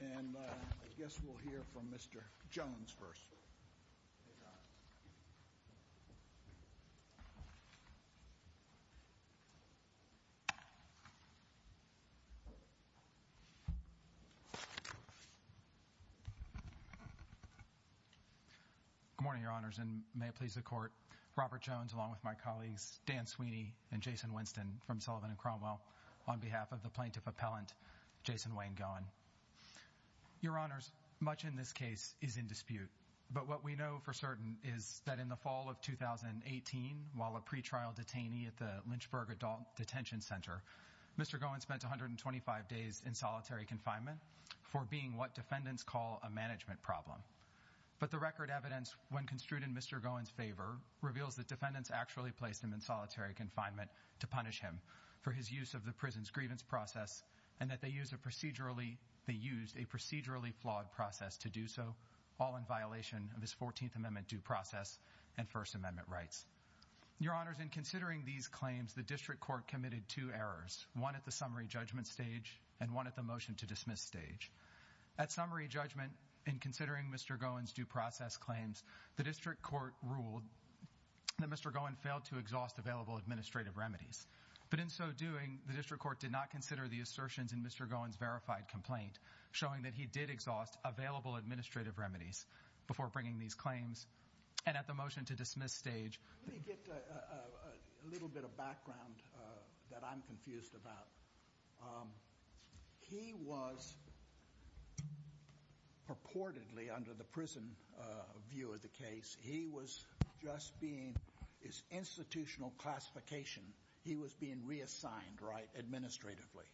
and I guess we'll hear from Mr. Jones first. Good morning, Your Honors, and may it please the Court, Robert Jones, along with my colleagues Dan Sweeney and Jason Winston from Sullivan and Cromwell, on behalf of the Plaintiff Appellant Jason Wayne Gowen. Your Honors, much in this case is in dispute, but what we know for certain is that in the fall of 2018, while a pretrial detainee at the Lynchburg Adult Detention Center, Mr. Gowen was charged with what defendants call a management problem. But the record evidence, when construed in Mr. Gowen's favor, reveals that defendants actually placed him in solitary confinement to punish him for his use of the prison's grievance process and that they used a procedurally flawed process to do so, all in violation of his 14th Amendment due process and First Amendment rights. Your Honors, in considering these claims, the District Court committed two errors, one at the summary judgment stage and one at the motion to dismiss stage. At summary judgment, in considering Mr. Gowen's due process claims, the District Court ruled that Mr. Gowen failed to exhaust available administrative remedies. But in so doing, the District Court did not consider the assertions in Mr. Gowen's verified complaint showing that he did exhaust available administrative remedies before bringing these claims and at the motion to dismiss stage. Let me get a little bit of background that I'm confused about. He was purportedly, under the prison view of the case, he was just being, his institutional classification, he was being reassigned, right, administratively,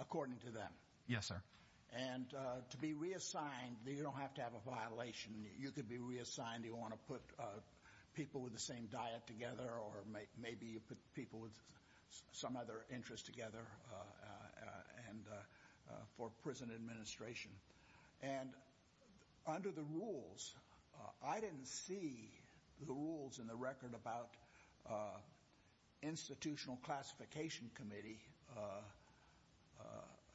according to them. Yes, sir. And to be reassigned, you don't have to have a violation. You could be reassigned, you want to put people with the same diet together or maybe you put people with some other interest together and for prison administration. And under the rules, I didn't see the rules in the record about institutional classification committee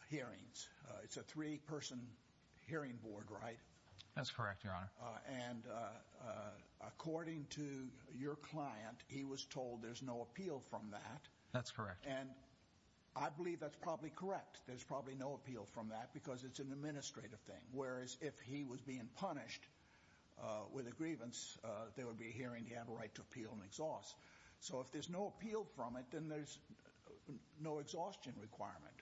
hearings. It's a three-person hearing board, right? That's correct, Your Honor. And according to your client, he was told there's no appeal from that. That's correct. And I believe that's probably correct. There's probably no appeal from that because it's an administrative thing, whereas if he was being punished with a grievance, there would be a hearing, he'd have a right to appeal and exhaust. So if there's no appeal from it, then there's no exhaustion requirement.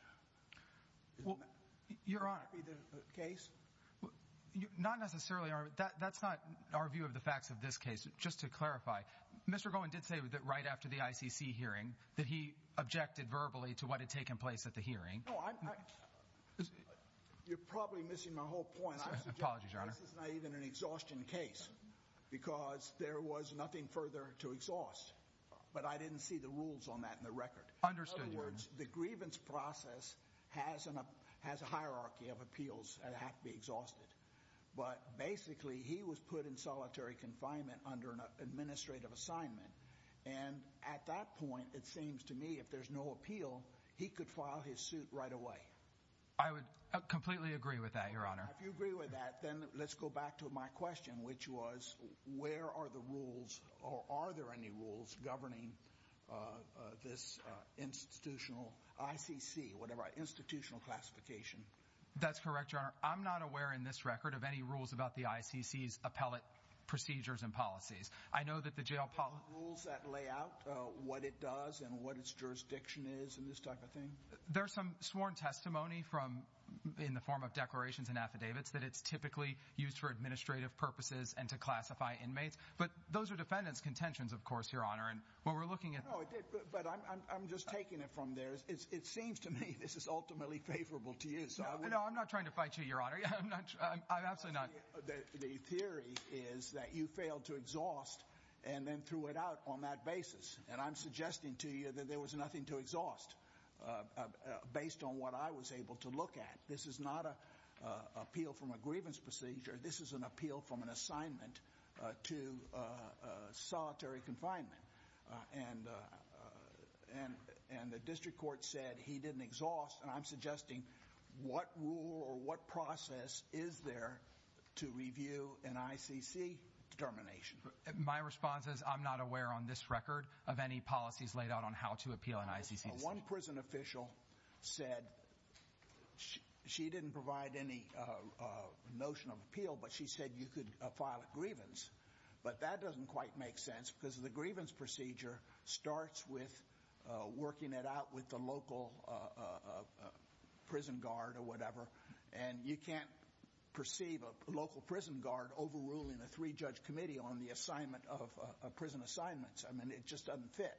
Well, Your Honor. Would that be the case? Not necessarily, Your Honor. That's not our view of the facts of this case. Just to clarify, Mr. Gowen did say that right after the ICC hearing that he objected verbally to what had taken place at the hearing. No, I'm not. You're probably missing my whole point. Apology, Your Honor. I'm suggesting this is not even an exhaustion case because there was nothing further to exhaust, but I didn't see the rules on that in the record. Understood, Your Honor. The grievance process has a hierarchy of appeals that have to be exhausted. But basically, he was put in solitary confinement under an administrative assignment. And at that point, it seems to me if there's no appeal, he could file his suit right away. I would completely agree with that, Your Honor. If you agree with that, then let's go back to my question, which was where are the rules governing this institutional ICC, whatever, institutional classification? That's correct, Your Honor. I'm not aware in this record of any rules about the ICC's appellate procedures and policies. I know that the jail policy... Are there rules that lay out what it does and what its jurisdiction is and this type of thing? There's some sworn testimony from, in the form of declarations and affidavits, that it's typically used for administrative purposes and to classify inmates. But those are defendants' contentions, of course, Your Honor. And when we're looking at... No, but I'm just taking it from there. It seems to me this is ultimately favorable to you, so I would... No, I'm not trying to fight you, Your Honor. I'm not... I'm absolutely not... The theory is that you failed to exhaust and then threw it out on that basis. And I'm suggesting to you that there was nothing to exhaust based on what I was able to look at. This is not an appeal from a grievance procedure. This is an appeal from an assignment to solitary confinement. And the district court said he didn't exhaust, and I'm suggesting what rule or what process is there to review an ICC determination? My response is I'm not aware on this record of any policies laid out on how to appeal an ICC decision. One prison official said she didn't provide any notion of appeal, but she said you could file a grievance. But that doesn't quite make sense because the grievance procedure starts with working it out with the local prison guard or whatever, and you can't perceive a local prison guard overruling a three-judge committee on the assignment of prison assignments. I mean, it just doesn't fit.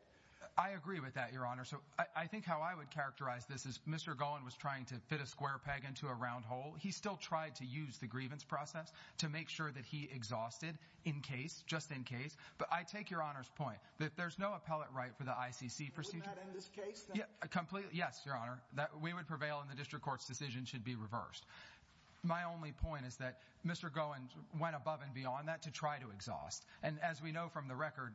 I agree with that, Your Honor. So I think how I would characterize this is Mr. Gowen was trying to fit a square peg into a round hole. He still tried to use the grievance process to make sure that he exhausted in case, just in case. But I take Your Honor's point that there's no appellate right for the ICC procedure. Would that end this case? Yes, Your Honor. We would prevail and the district court's decision should be reversed. My only point is that Mr. Gowen went above and beyond that to try to exhaust. And as we know from the record,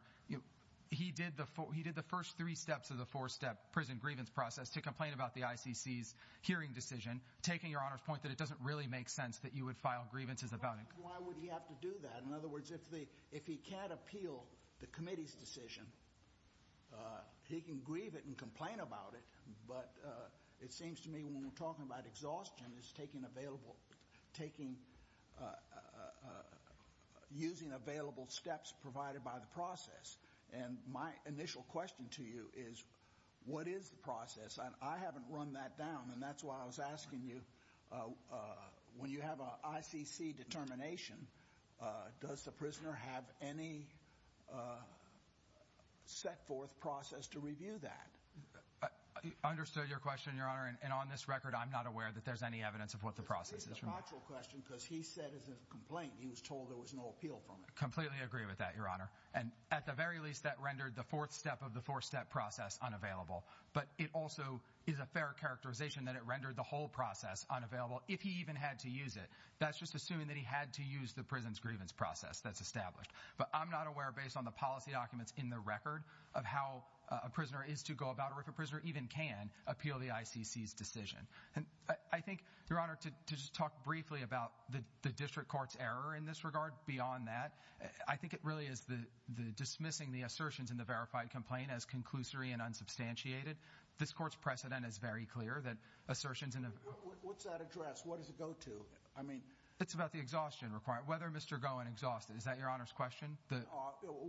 he did the first three steps of the four-step prison grievance process to complain about the ICC's hearing decision, taking Your Honor's point that it doesn't really make sense that you would file grievances about it. Why would he have to do that? In other words, if he can't appeal the committee's decision, he can grieve it and complain about it. But it seems to me when we're talking about exhaustion, it's using available steps provided by the process. And my initial question to you is, what is the process? I haven't run that down and that's why I was asking you, when you have an ICC determination, does the prisoner have any set forth process to review that? I understood your question, Your Honor. And on this record, I'm not aware that there's any evidence of what the process is. It's a factual question because he said it's a complaint. He was told there was no appeal from it. Completely agree with that, Your Honor. And at the very least, that rendered the fourth step of the four-step process unavailable. But it also is a fair characterization that it rendered the whole process unavailable if he even had to use it. That's just assuming that he had to use the prison's grievance process that's established. But I'm not aware, based on the policy documents in the record, of how a prisoner is to go about or if a prisoner even can appeal the ICC's decision. And I think, Your Honor, to just talk briefly about the district court's error in this regard beyond that, I think it really is dismissing the assertions in the verified complaint as conclusory and unsubstantiated. This court's precedent is very clear that assertions in the... What's that address? What does it go to? I mean... It's about the exhaustion requirement. It's about whether Mr. Gowen exhausted it. Is that Your Honor's question?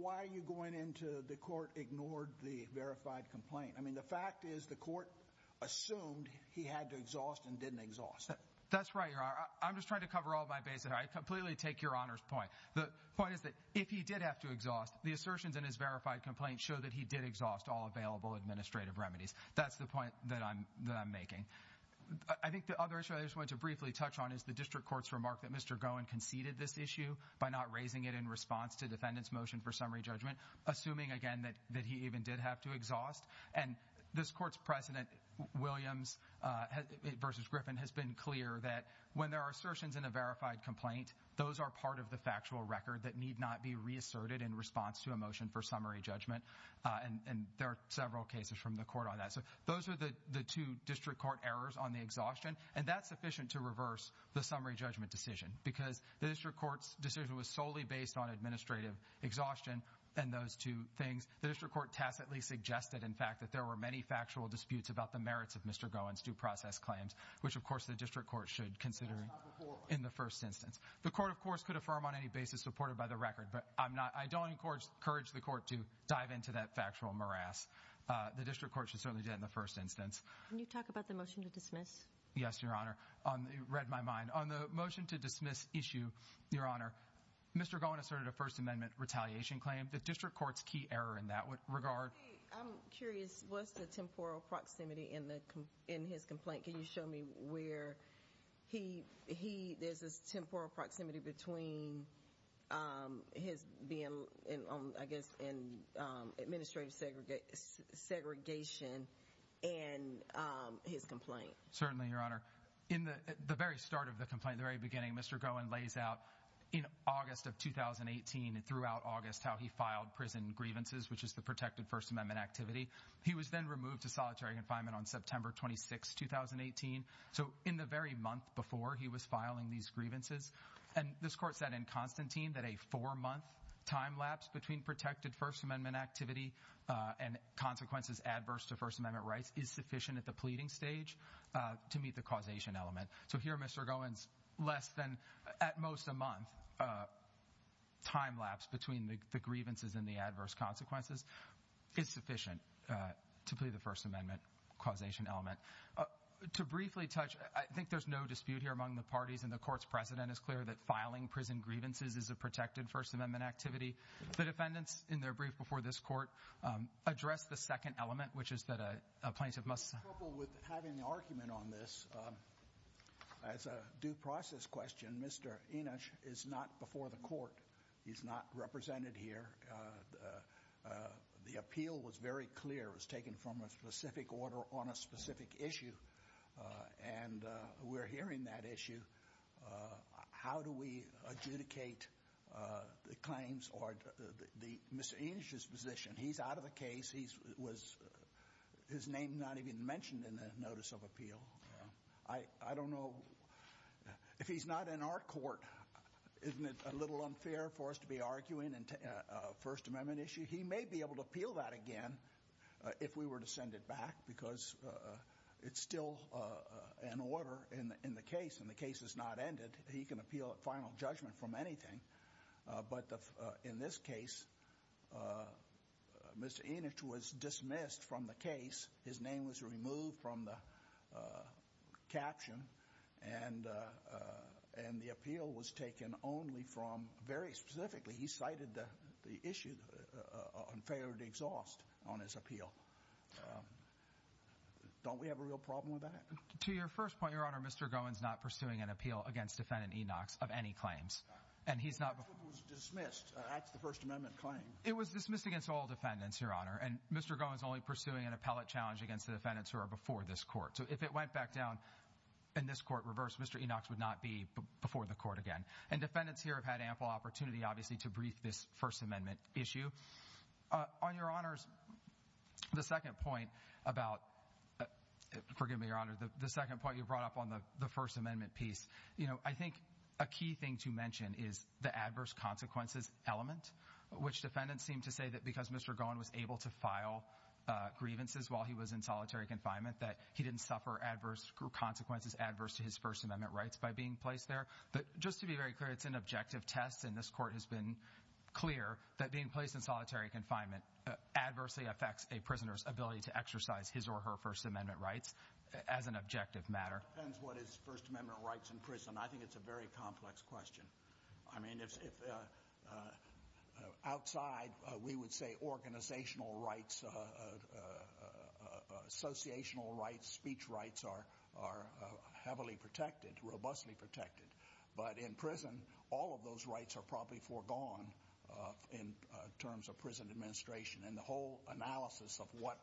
Why are you going into the court ignored the verified complaint? I mean, the fact is the court assumed he had to exhaust and didn't exhaust it. That's right, Your Honor. I'm just trying to cover all my bases. I completely take Your Honor's point. The point is that if he did have to exhaust, the assertions in his verified complaint show that he did exhaust all available administrative remedies. That's the point that I'm making. I think the other issue I just want to briefly touch on is the district court's remark that Mr. Gowen conceded this issue by not raising it in response to defendant's motion for summary judgment, assuming, again, that he even did have to exhaust. And this court's precedent, Williams v. Griffin, has been clear that when there are assertions in a verified complaint, those are part of the factual record that need not be reasserted in response to a motion for summary judgment, and there are several cases from the court on that. So those are the two district court errors on the exhaustion, and that's sufficient to reverse the summary judgment decision, because the district court's decision was solely based on administrative exhaustion and those two things. The district court tacitly suggested, in fact, that there were many factual disputes about the merits of Mr. Gowen's due process claims, which, of course, the district court should consider in the first instance. The court, of course, could affirm on any basis supported by the record, but I don't encourage the court to dive into that factual morass. The district court should certainly do that in the first instance. Can you talk about the motion to dismiss? Yes, Your Honor. It read my mind. On the motion to dismiss issue, Your Honor, Mr. Gowen asserted a First Amendment retaliation claim. The district court's key error in that regard. Okay. I'm curious. What's the temporal proximity in his complaint? Can you show me where there's this temporal proximity between his being, I guess, in administrative segregation and his complaint? Certainly, Your Honor. In the very start of the complaint, the very beginning, Mr. Gowen lays out in August of 2018 and throughout August how he filed prison grievances, which is the protected First Amendment activity. He was then removed to solitary confinement on September 26, 2018. So in the very month before he was filing these grievances, and this court said in Constantine that a four-month time lapse between protected First Amendment activity and consequences adverse to First Amendment rights is sufficient at the pleading stage to meet the causation element. So here, Mr. Gowen's less than at most a month time lapse between the grievances and the adverse consequences is sufficient to plead the First Amendment causation element. To briefly touch, I think there's no dispute here among the parties and the court's precedent is clear that filing prison grievances is a protected First Amendment activity. The defendants, in their brief before this court, addressed the second element, which is that a plaintiff must— In couple with having the argument on this, as a due process question, Mr. Enich is not before the court. He's not represented here. The appeal was very clear. It was taken from a specific order on a specific issue, and we're hearing that issue. How do we adjudicate the claims or the—Mr. Enich's position, he's out of the case. He was—his name not even mentioned in the notice of appeal. I don't know—if he's not in our court, isn't it a little unfair for us to be arguing a First Amendment issue? He may be able to appeal that again if we were to send it back, because it's still an order in the case, and the case has not ended. He can appeal a final judgment from anything, but in this case, Mr. Enich was dismissed from the case. His name was removed from the caption, and the appeal was taken only from—very specifically, he cited the issue on failure to exhaust on his appeal. Don't we have a real problem with that? To your first point, Your Honor, Mr. Gowen's not pursuing an appeal against Defendant Enochs of any claims, and he's not— The appeal was dismissed. That's the First Amendment claim. It was dismissed against all defendants, Your Honor, and Mr. Gowen's only pursuing an appellate challenge against the defendants who are before this court. So if it went back down in this court, reversed, Mr. Enochs would not be before the court again, and defendants here have had ample opportunity, obviously, to brief this First Amendment issue. On Your Honor's second point about—forgive me, Your Honor—the second point you brought up on the First Amendment piece, I think a key thing to mention is the adverse consequences element, which defendants seem to say that because Mr. Gowen was able to file grievances while he was in solitary confinement, that he didn't suffer adverse consequences, adverse to his First Amendment rights by being placed there. Just to be very clear, it's an objective test, and this court has been clear that being placed in solitary confinement adversely affects a prisoner's ability to exercise his or her First Amendment rights as an objective matter. It depends what his First Amendment rights in prison. I think it's a very complex question. I mean, if—outside, we would say organizational rights, associational rights, speech rights are heavily protected, robustly protected. But in prison, all of those rights are probably foregone in terms of prison administration, and the whole analysis of what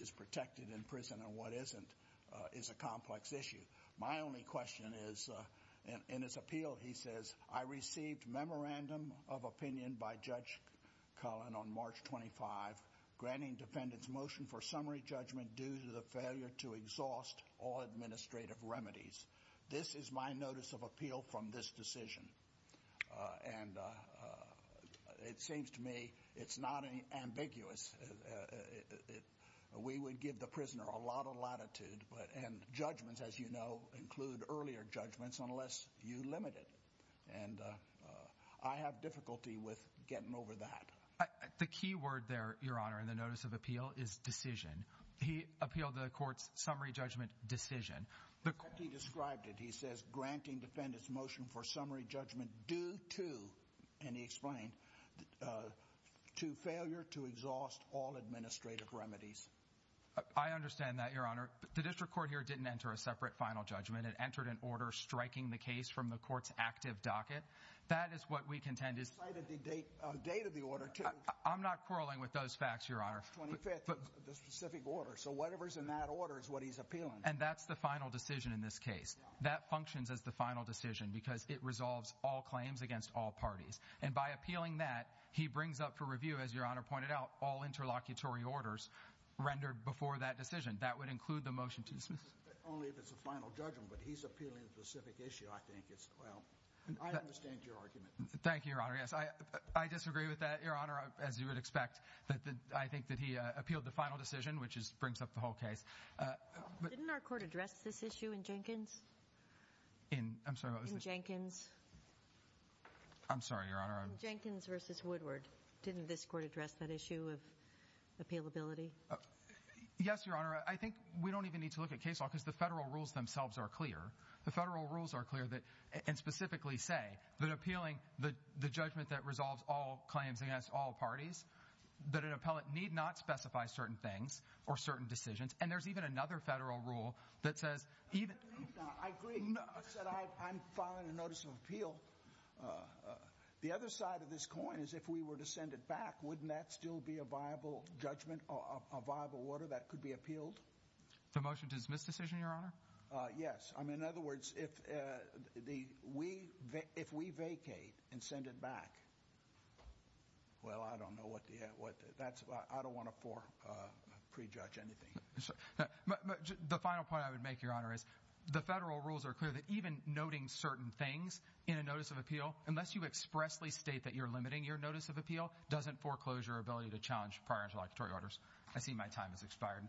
is protected in prison and what isn't is a complex issue. My only question is—in his appeal, he says, I received memorandum of opinion by Judge Cullen on March 25, granting defendants motion for summary judgment due to the failure to exhaust all administrative remedies. This is my notice of appeal from this decision. And it seems to me it's not ambiguous. We would give the prisoner a lot of latitude, but—and judgments, as you know, include earlier judgments unless you limit it. And I have difficulty with getting over that. The key word there, Your Honor, in the notice of appeal is decision. He appealed the court's summary judgment decision. That's how he described it. He says, granting defendants motion for summary judgment due to—and he explained—to failure to exhaust all administrative remedies. I understand that, Your Honor. The district court here didn't enter a separate final judgment. It entered an order striking the case from the court's active docket. That is what we contend is— He cited the date of the order, too. I'm not quarreling with those facts, Your Honor. It's the 25th of the specific order. So whatever's in that order is what he's appealing. And that's the final decision in this case. That functions as the final decision because it resolves all claims against all parties. And by appealing that, he brings up for review, as Your Honor pointed out, all interlocutory orders rendered before that decision. That would include the motion to dismiss. Only if it's a final judgment, but he's appealing to the specific issue, I think. It's—well, I understand your argument. Thank you, Your Honor. Yes, I disagree with that, Your Honor, as you would expect. I think that he appealed the final decision, which brings up the whole case. But— Didn't our court address this issue in Jenkins? In—I'm sorry, what was the— In Jenkins. I'm sorry, Your Honor, I was— In Jenkins v. Woodward, didn't this court address that issue of appealability? Yes, Your Honor. I think we don't even need to look at case law because the federal rules themselves are clear. The federal rules are clear that—and specifically say that appealing the judgment that resolves all claims against all parties, that an appellant need not specify certain things or certain decisions. And there's even another federal rule that says even— I agree enough that I'm filing a notice of appeal. The other side of this coin is if we were to send it back, wouldn't that still be a viable judgment or a viable order that could be appealed? The motion to dismiss decision, Your Honor? Yes. I mean, in other words, if we vacate and send it back, well, I don't know what the—I don't want to prejudge anything. The final point I would make, Your Honor, is the federal rules are clear that even noting certain things in a notice of appeal, unless you expressly state that you're limiting your notice of appeal, doesn't foreclose your ability to challenge prior interlocutory orders. I see my time has expired.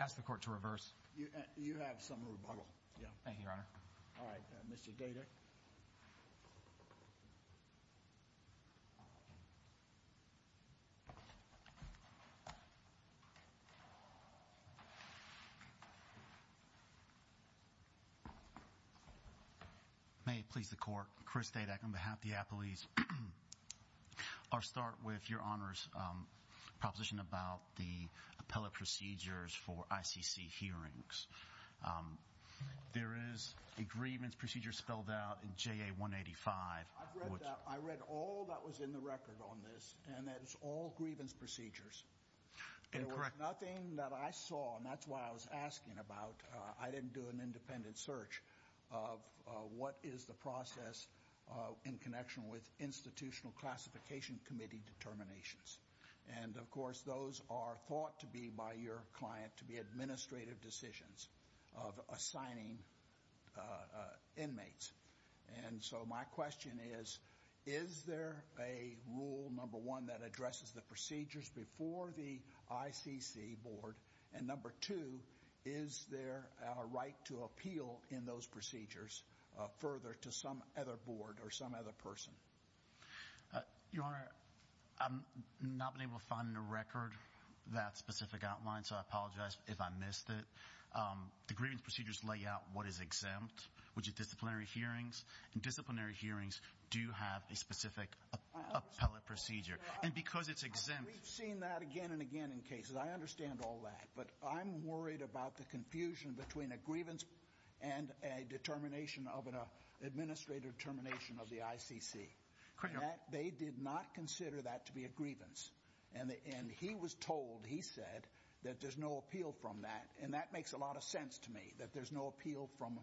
I ask the Court to reverse. You have some rebuttal. Yeah. Thank you, Your Honor. All right. Mr. Goeter. May it please the Court, Chris Dadak on behalf of the appellees. I'll start with Your Honor's proposition about the appellate procedures for ICC hearings. There is a grievance procedure spelled out in JA 185. I've read that. I read all that was in the record on this, and that is all grievance procedures. Incorrect. There was nothing that I saw, and that's why I was asking about—I didn't do an independent search of what is the process in connection with institutional classification committee determinations. And of course, those are thought to be by your client to be administrative decisions of assigning inmates. And so my question is, is there a rule, number one, that addresses the procedures before the ICC board? And number two, is there a right to appeal in those procedures further to some other board or some other person? Your Honor, I've not been able to find in the record that specific outline, so I apologize if I missed it. The grievance procedures lay out what is exempt, which is disciplinary hearings, and disciplinary hearings do have a specific appellate procedure. And because it's exempt— We've seen that again and again in cases. I understand all that, but I'm worried about the confusion between a grievance and a determination of an administrative termination of the ICC. They did not consider that to be a grievance. And he was told, he said, that there's no appeal from that, and that makes a lot of sense to me, that there's no appeal from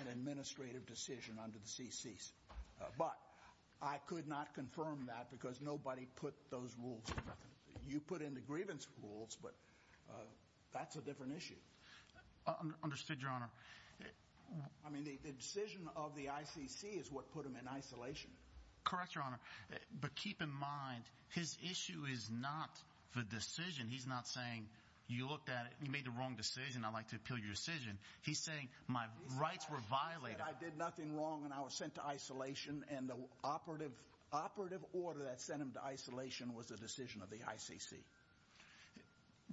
an administrative decision under the CCs. But I could not confirm that because nobody put those rules. You put in the grievance rules, but that's a different issue. Understood, Your Honor. I mean, the decision of the ICC is what put him in isolation. Correct, Your Honor. But keep in mind, his issue is not the decision. He's not saying, you looked at it, you made the wrong decision, I'd like to appeal your decision. He's saying, my rights were violated. I did nothing wrong, and I was sent to isolation, and the operative order that sent him to isolation was the decision of the ICC.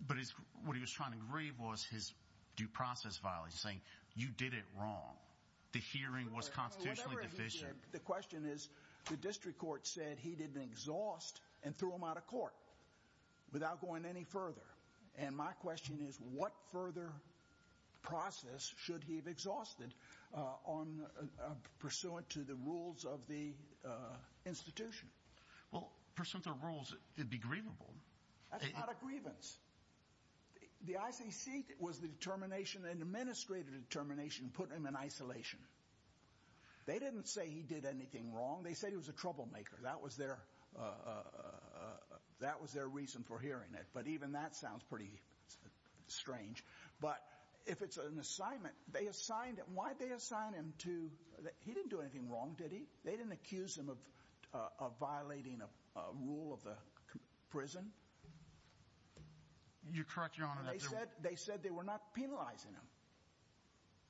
But what he was trying to grieve was his due process violation, saying, you did it wrong. The hearing was constitutionally deficient. The question is, the district court said he didn't exhaust and threw him out of court without going any further. And my question is, what further process should he have exhausted pursuant to the rules of the institution? Well, pursuant to the rules, it'd be grievable. That's not a grievance. The ICC was the determination, an administrative determination, put him in isolation. They didn't say he did anything wrong. They said he was a troublemaker. That was their reason for hearing it. But even that sounds pretty strange. But if it's an assignment, they assigned him, why'd they assign him to, he didn't do anything wrong, did he? They didn't accuse him of violating a rule of the prison? You're correct, Your Honor. They said they were not penalizing him,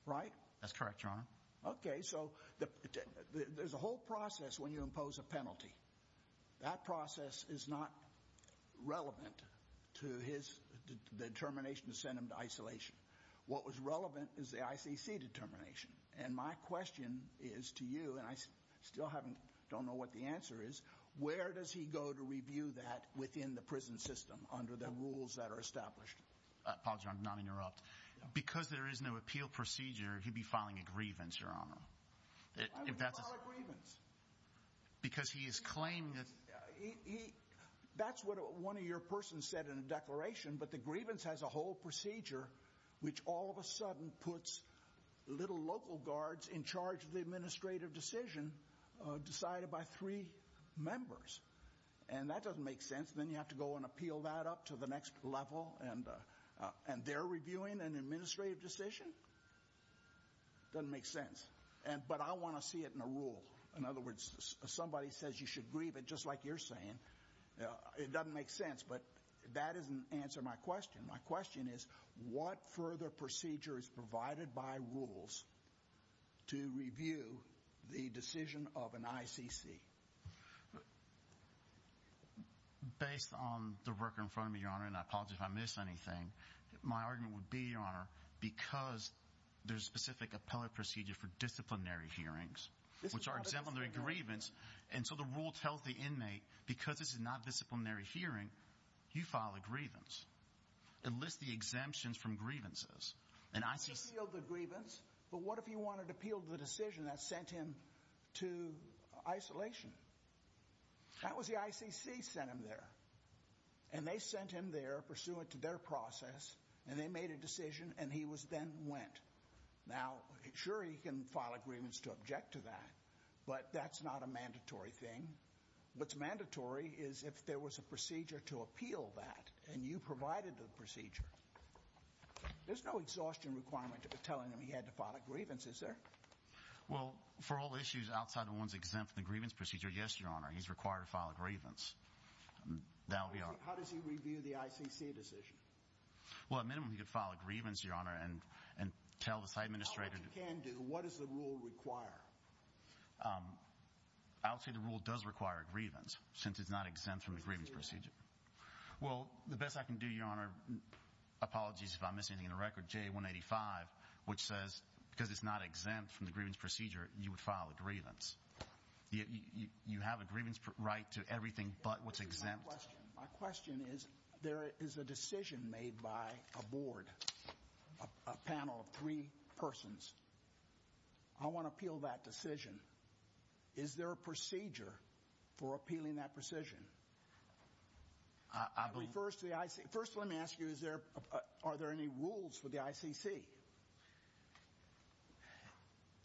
right? That's correct, Your Honor. Okay, so there's a whole process when you impose a penalty. That process is not relevant to his determination to send him to isolation. What was relevant is the ICC determination. And my question is to you, and I still haven't, don't know what the answer is, where does he go to review that within the prison system under the rules that are established? Apologies, Your Honor, to not interrupt. Because there is no appeal procedure, he'd be filing a grievance, Your Honor. Why would he file a grievance? Because he is claiming that... That's what one of your persons said in a declaration, but the grievance has a whole procedure which all of a sudden puts little local guards in charge of the administrative decision decided by three members. And that doesn't make sense. Then you have to go and appeal that up to the next level, and they're reviewing an administrative decision? It doesn't make sense. But I want to see it in a rule. In other words, if somebody says you should grieve it just like you're saying, it doesn't make sense. But that doesn't answer my question. My question is, what further procedure is provided by rules to review the decision of an ICC? Based on the record in front of me, Your Honor, and I apologize if I missed anything, my argument would be, Your Honor, because there's a specific appellate procedure for disciplinary hearings, which are exempt from the grievance, and so the rule tells the inmate, because this is a disciplinary hearing, he can file a grievance, enlist the exemptions from grievances, and ICC... He appealed the grievance, but what if he wanted to appeal the decision that sent him to isolation? That was the ICC sent him there. And they sent him there pursuant to their process, and they made a decision, and he was then went. Now, sure, he can file a grievance to object to that, but that's not a mandatory thing. What's mandatory is if there was a procedure to appeal that, and you provided the procedure. There's no exhaustion requirement of telling him he had to file a grievance, is there? Well, for all issues outside of ones exempt from the grievance procedure, yes, Your Honor, he's required to file a grievance. That would be our... How does he review the ICC decision? Well, at minimum, he could file a grievance, Your Honor, and tell the site administrator... Tell what you can do. What does the rule require? I would say the rule does require a grievance, since it's not exempt from the grievance procedure. Well, the best I can do, Your Honor, apologies if I'm missing anything in the record, JA 185, which says because it's not exempt from the grievance procedure, you would file a grievance. You have a grievance right to everything but what's exempt. My question is, there is a decision made by a board, a panel of three persons. I want to appeal that decision. Is there a procedure for appealing that decision? I believe... First, let me ask you, are there any rules for the ICC?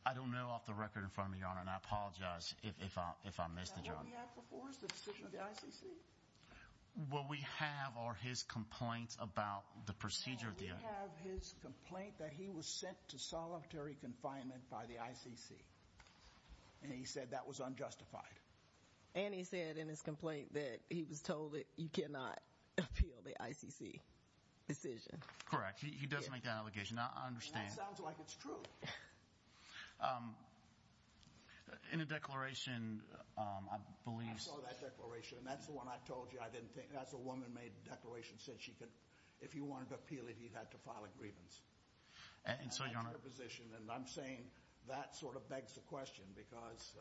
I don't know off the record in front of me, Your Honor, and I apologize if I missed it, Your Honor. Is that what we have before us, the decision of the ICC? What we have are his complaints about the procedure deal. We have his complaint that he was sent to solitary confinement by the ICC, and he said that was unjustified. And he said in his complaint that he was told that you cannot appeal the ICC decision. Correct. He doesn't make that allegation. I understand. That sounds like it's true. In a declaration, I believe- I saw that declaration, and that's the one I told you I didn't think. I think that's the one that made the declaration, said she could, if he wanted to appeal it, he had to file a grievance. And so, Your Honor- That's her position. And I'm saying that sort of begs the question, because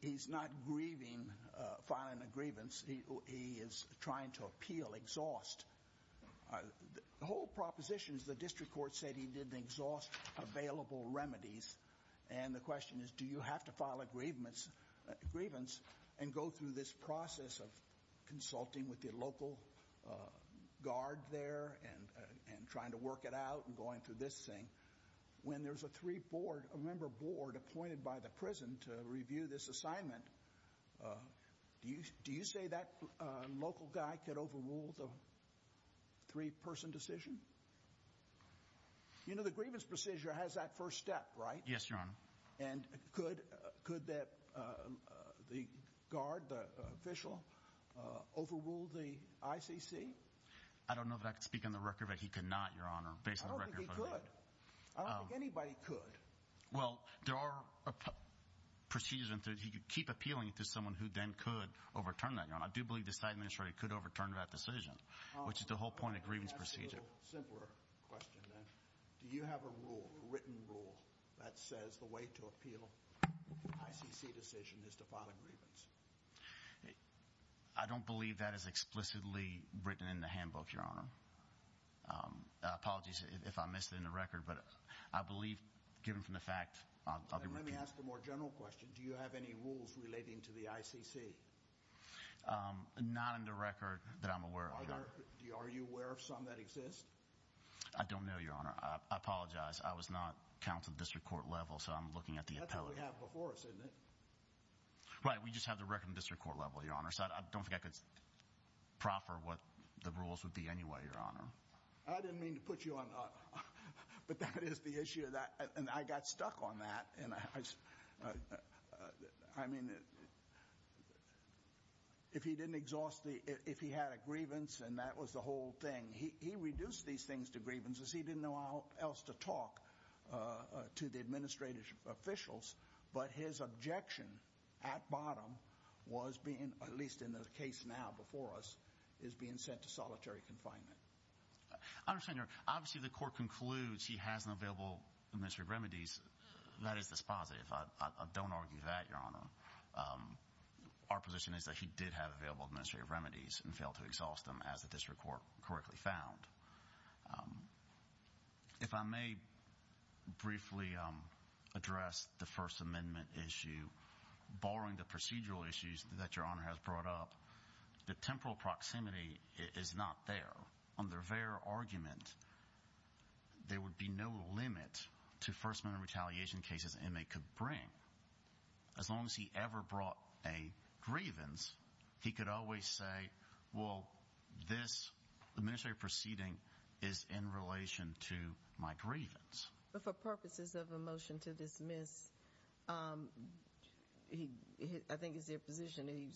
he's not grieving filing a grievance. He is trying to appeal, exhaust. The whole proposition is the district court said he didn't exhaust available remedies, and the question is, do you have to file a grievance and go through this process of consulting with the local guard there and trying to work it out and going through this thing? When there's a three-member board appointed by the prison to review this assignment, do you say that local guy could overrule the three-person decision? You know, the grievance procedure has that first step, right? Yes, Your Honor. And could the guard, the official, overrule the ICC? I don't know that I could speak on the record, but he could not, Your Honor, based on the I don't think he could. I don't think anybody could. Well, there are procedures, and he could keep appealing it to someone who then could overturn that, Your Honor. I do believe this Administrator could overturn that decision, which is the whole point of Just a simpler question, then. Do you have a rule, a written rule, that says the way to appeal an ICC decision is to file a grievance? I don't believe that is explicitly written in the handbook, Your Honor. Apologies if I missed it in the record, but I believe, given from the fact, I'll be repeating Then let me ask a more general question. Do you have any rules relating to the ICC? Not on the record that I'm aware of, Your Honor. Are you aware of some that exist? I don't know, Your Honor. I apologize. I was not counted at the district court level, so I'm looking at the appellate. That's what we have before us, isn't it? Right. We just have the record in the district court level, Your Honor, so I don't think I could proffer what the rules would be anyway, Your Honor. I didn't mean to put you on, but that is the issue, and I got stuck on that. I mean, if he had a grievance and that was the whole thing, he reduced these things to He didn't know how else to talk to the administrative officials, but his objection at bottom was being, at least in the case now before us, is being sent to solitary confinement. I understand, Your Honor. Obviously, the court concludes he has an available measure of remedies. That is dispositive. I don't argue that, Your Honor. Our position is that he did have available administrative remedies and failed to exhaust them, as the district court correctly found. If I may briefly address the First Amendment issue, barring the procedural issues that Your Honor has brought up, the temporal proximity is not there. Under their argument, there would be no limit to First Amendment retaliation cases an inmate could bring. As long as he ever brought a grievance, he could always say, well, this administrative proceeding is in relation to my grievance. But for purposes of a motion to dismiss, I think it's their position that he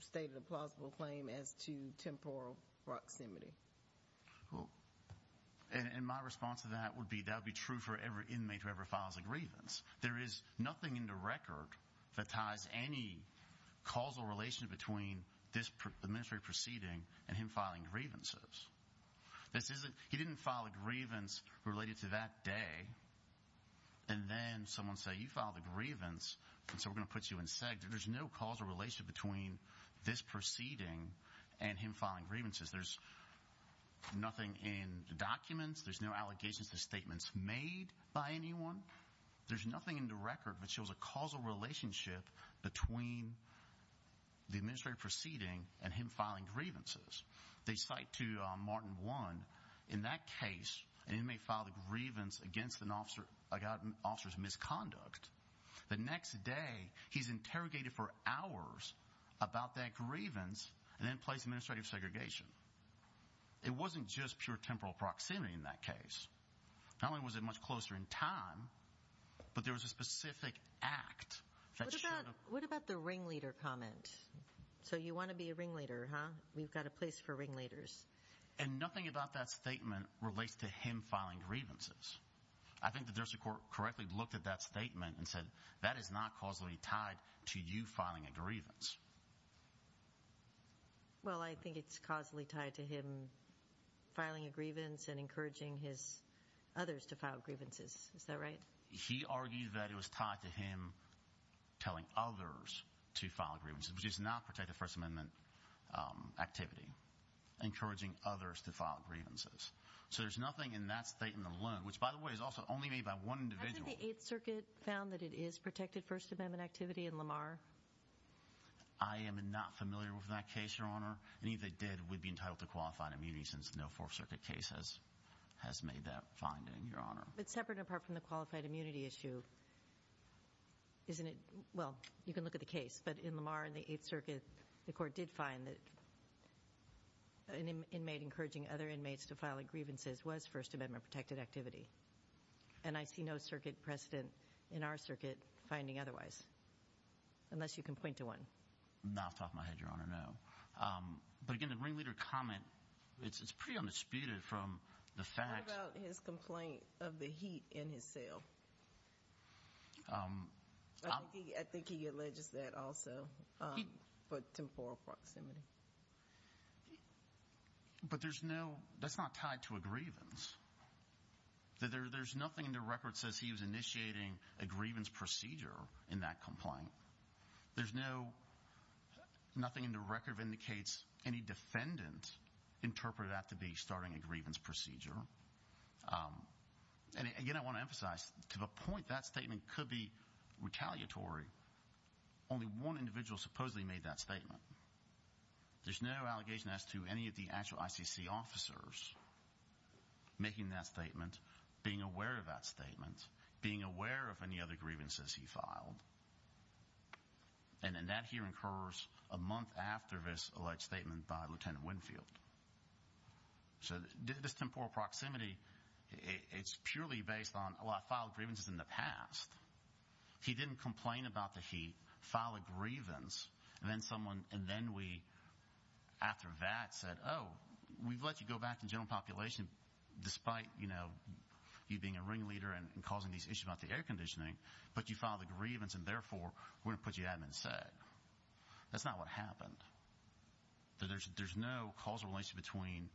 stated a temporal proximity. And my response to that would be, that would be true for every inmate who ever files a grievance. There is nothing in the record that ties any causal relation between this administrative proceeding and him filing grievances. He didn't file a grievance related to that day, and then someone say, you filed a grievance, and so we're going to put you in SEG. There's no causal relation between this proceeding and him filing grievances. There's nothing in the documents. There's no allegations to statements made by anyone. There's nothing in the record that shows a causal relationship between the administrative proceeding and him filing grievances. They cite to Martin 1, in that case, an inmate filed a grievance against an officer's misconduct. The next day, he's interrogated for hours about that grievance, and then placed in administrative segregation. It wasn't just pure temporal proximity in that case. Not only was it much closer in time, but there was a specific act that showed up. What about the ringleader comment? So you want to be a ringleader, huh? We've got a place for ringleaders. And nothing about that statement relates to him filing grievances. I think the district court correctly looked at that statement and said, that is not causally tied to you filing a grievance. Well, I think it's causally tied to him filing a grievance and encouraging his others to file grievances. Is that right? He argued that it was tied to him telling others to file grievances, which is not protected First Amendment activity. Encouraging others to file grievances. So there's nothing in that statement alone. Which, by the way, is also only made by one individual. I think the Eighth Circuit found that it is protected First Amendment activity in Lamar. I am not familiar with that case, Your Honor. Any that did would be entitled to qualified immunity, since no Fourth Circuit case has made that finding, Your Honor. But separate and apart from the qualified immunity issue, isn't it, well, you can look at the case, but in Lamar and the Eighth Circuit, the court did find that an inmate encouraging other inmates to file grievances was First Amendment protected activity. And I see no circuit precedent in our circuit finding otherwise. Unless you can point to one. Not off the top of my head, Your Honor, no. But again, the ringleader comment, it's pretty undisputed from the facts. What about his complaint of the heat in his cell? I think he alleges that also, for temporal proximity. But there's no, that's not tied to a grievance. There's nothing in the record that says he was initiating a grievance procedure in that complaint. There's no, nothing in the record indicates any defendant interpreted that to be starting a grievance procedure. And again, I want to emphasize, to the point, that statement could be retaliatory. Only one individual supposedly made that statement. There's no allegation as to any of the actual ICC officers making that statement, being aware of that statement, being aware of any other grievances he filed. And that here incurs a month after this alleged statement by Lt. Winfield. So this temporal proximity, it's purely based on, oh, I filed grievances in the past. He didn't complain about the heat, file a grievance, and then someone, and then we, after that, said, oh, we've let you go back to the general population, despite, you know, you being a ringleader and causing these issues about the air conditioning, but you filed a grievance, and therefore, we're going to put you out of it instead. That's not what happened. There's no causal relationship between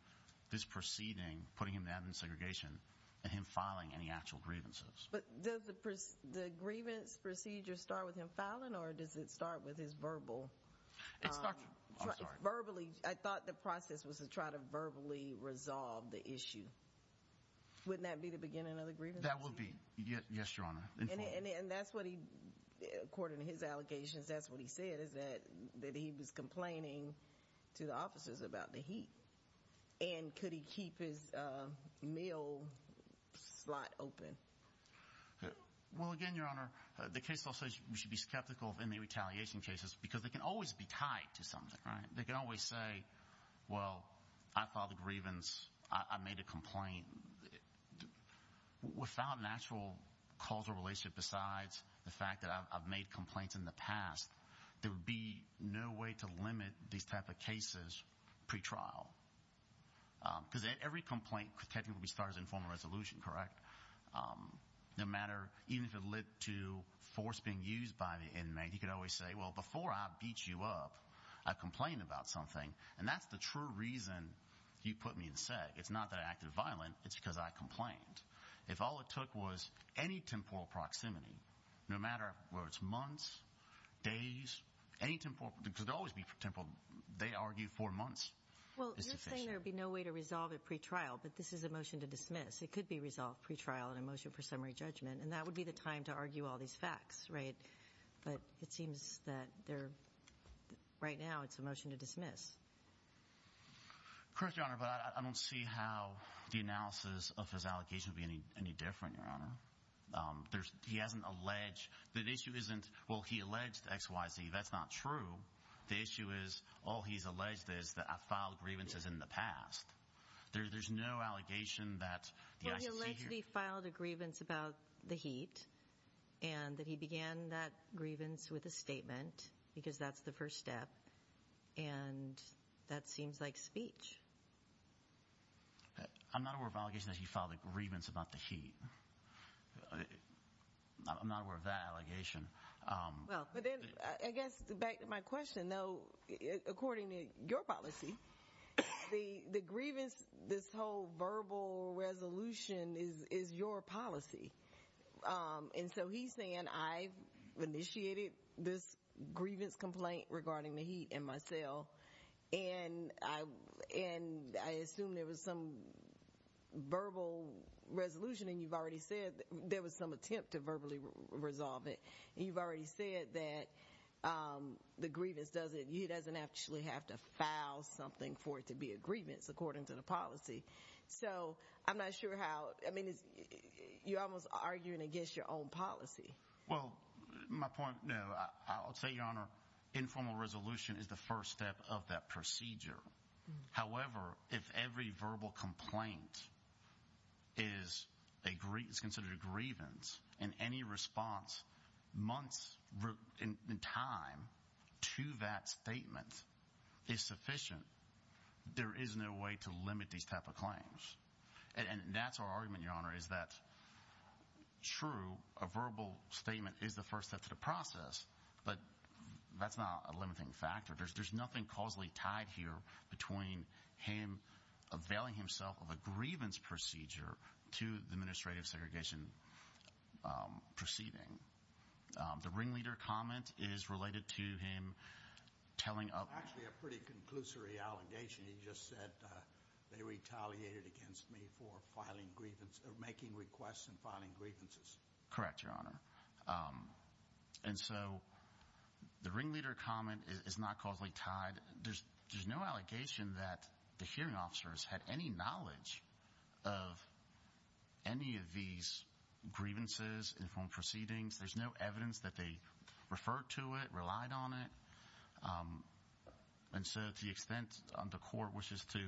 this proceeding, putting him in admin segregation, and him filing any actual grievances. But does the grievance procedure start with him filing, or does it start with his verbal- It starts- I'm sorry. Verbally, I thought the process was to try to verbally resolve the issue. Wouldn't that be the beginning of the grievance? That would be. Yes, Your Honor. And that's what he, according to his allegations, that's what he said, is that he was complaining to the officers about the heat. And could he keep his mail slot open? Well, again, Your Honor, the case law says you should be skeptical of inmate retaliation cases, because they can always be tied to something, right? They can always say, well, I filed a grievance, I made a complaint. Without an actual causal relationship, besides the fact that I've made complaints in the past, there would be no way to limit these type of cases pre-trial. Because every complaint technically starts in formal resolution, correct? No matter, even if it led to force being used by the inmate, he could always say, well, before I beat you up, I complained about something. And that's the true reason you put me in seg. It's not that I acted violent, it's because I complained. If all it took was any temporal proximity, no matter whether it's months, days, any temporal, because there will always be temporal, they argue four months is sufficient. Well, you're saying there would be no way to resolve it pre-trial, but this is a motion to dismiss. It could be resolved pre-trial in a motion for summary judgment, and that would be the time to argue all these facts, right? But it seems that right now it's a motion to dismiss. Correct, Your Honor, but I don't see how the analysis of his allegations would be any different, Your Honor. He hasn't alleged, the issue isn't, well, he alleged X, Y, Z, that's not true. The issue is, all he's alleged is that I've filed grievances in the past. There's no allegation that the ICC here- Well, he allegedly filed a grievance about the heat, and that he began that grievance with a statement, because that's the first step, and that seems like speech. I'm not aware of allegations that he filed a grievance about the heat. I'm not aware of that allegation. Well, but then, I guess, back to my question, though, according to your policy, the grievance, this whole verbal resolution is your policy. And so he's saying, I've initiated this grievance complaint regarding the heat in my cell, and I assume there was some verbal resolution, and you've already said there was some attempt to verbally resolve it. And you've already said that the grievance doesn't, he doesn't actually have to file something for it to be a grievance, according to the policy. So, I'm not sure how, I mean, you're almost arguing against your own policy. Well, my point, I'll tell you, Your Honor, informal resolution is the first step of that procedure. However, if every verbal complaint is considered a grievance, and any response months in time to that statement is sufficient, there is no way to limit these type of claims. And that's our argument, Your Honor, is that, true, a verbal statement is the first step to the process, but that's not a limiting factor. There's nothing causally tied here between him availing himself of a grievance procedure to the administrative segregation proceeding. The ringleader comment is related to him telling a- Actually, a pretty conclusory allegation. He just said, they retaliated against me for filing grievance, or making requests and filing grievances. Correct, Your Honor. And so, the ringleader comment is not causally tied. There's no allegation that the hearing officers had any knowledge of any of these grievances, informed proceedings. There's no evidence that they referred to it, relied on it. And so, to the extent the court wishes to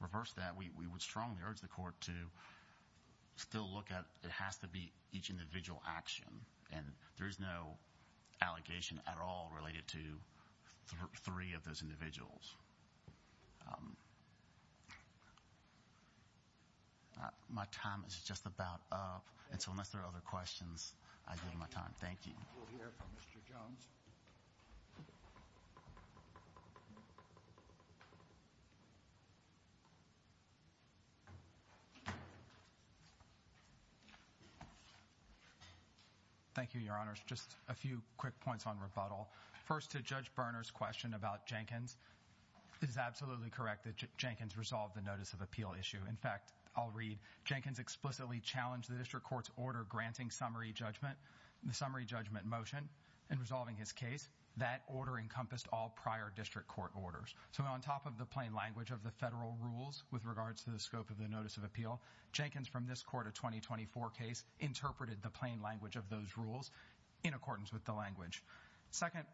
reverse that, we would strongly urge the court to still look at, it has to be each individual action. And there is no allegation at all related to three of those individuals. My time is just about up. And so, unless there are other questions, I give my time. Thank you. We'll hear from Mr. Jones. Thank you, Your Honors. Just a few quick points on rebuttal. First, to Judge Berner's question about Jenkins. It is absolutely correct that Jenkins resolved the notice of appeal issue. In fact, I'll read, Jenkins explicitly challenged the district court's order granting summary judgment. The summary judgment motion in resolving his case, that order encompassed all prior district court orders. So, on top of the plain language of the federal rules with regards to the scope of the notice of appeal, Jenkins, from this court, a 2024 case, interpreted the plain language of those rules in accordance with the language. Second,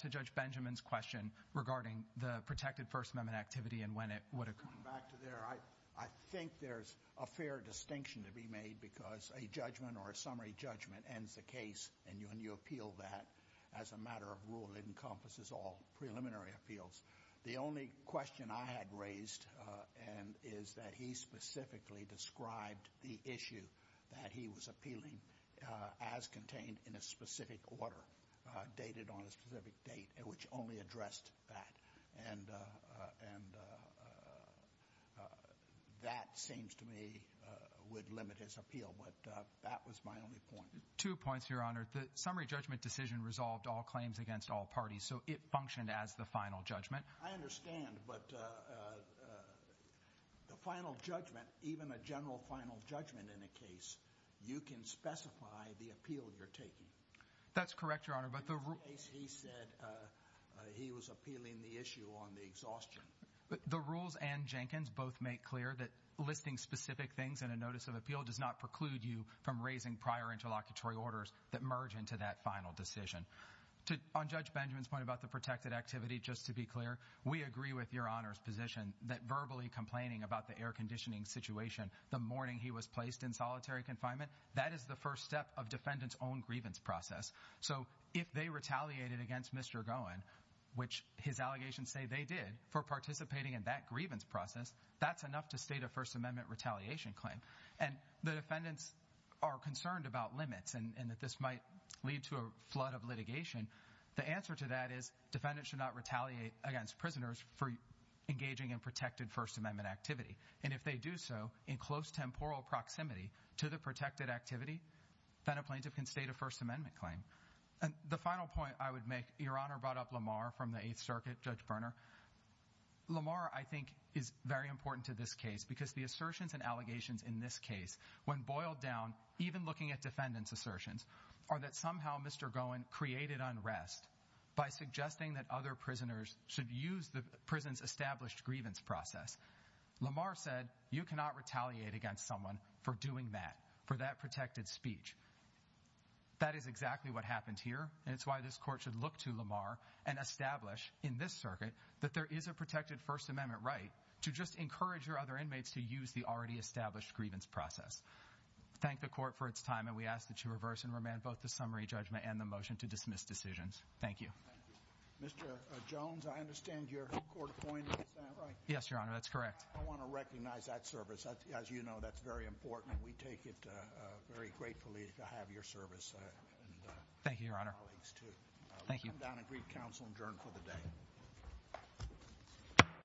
to Judge Benjamin's question regarding the protected First Amendment activity and when it would occur. Going back to there, I think there's a fair distinction to be made because a judgment or a summary judgment ends the case and when you appeal that, as a matter of rule, it encompasses all preliminary appeals. The only question I had raised is that he specifically described the issue that he was appealing as contained in a specific order dated on a specific date, which only addressed that. And that seems to me would limit his appeal, but that was my only point. Two points, Your Honor. The summary judgment decision resolved all claims against all parties, so it functioned as the final judgment. I understand, but the final judgment, even a general final judgment in a case, you can specify the appeal you're taking. That's correct, Your Honor. He said he was appealing the issue on the exhaustion. The rules and Jenkins both make clear that listing specific things in a notice of appeal does not preclude you from raising prior interlocutory orders that merge into that final decision. On Judge Benjamin's point about the protected activity, just to be clear, we agree with Your Honor's position that verbally complaining about the air-conditioning situation the morning he was placed in solitary confinement, that is the first step of defendants' own grievance process. So if they retaliated against Mr. Gowen, which his allegations say they did, for participating in that grievance process, that's enough to state a First Amendment retaliation claim. And the defendants are concerned about limits and that this might lead to a flood of litigation. The answer to that is defendants should not retaliate against prisoners for engaging in protected First Amendment activity. And if they do so in close temporal proximity to the protected activity, then a plaintiff can state a First Amendment claim. And the final point I would make, Your Honor brought up Lamar from the Eighth Circuit, Judge Berner. Lamar, I think, is very important to this case because the assertions and allegations in this case, when boiled down, even looking at defendants' assertions, are that somehow Mr. Gowen created unrest by suggesting that other prisoners should use the prison's established grievance process. Lamar said, you cannot retaliate against someone for doing that, for that protected speech. That is exactly what happened here, and it's why this Court should look to Lamar and establish in this circuit that there is a protected First Amendment right to just encourage your other inmates to use the already established grievance process. Thank the Court for its time, and we ask that you reverse and remand both the summary judgment and the motion to dismiss decisions. Thank you. Mr. Jones, I understand you're court-appointed, is that right? Yes, Your Honor, that's correct. I want to recognize that service. As you know, that's very important. We take it very gratefully to have your service. Thank you, Your Honor. We'll come down and greet counsel and adjourn for the day.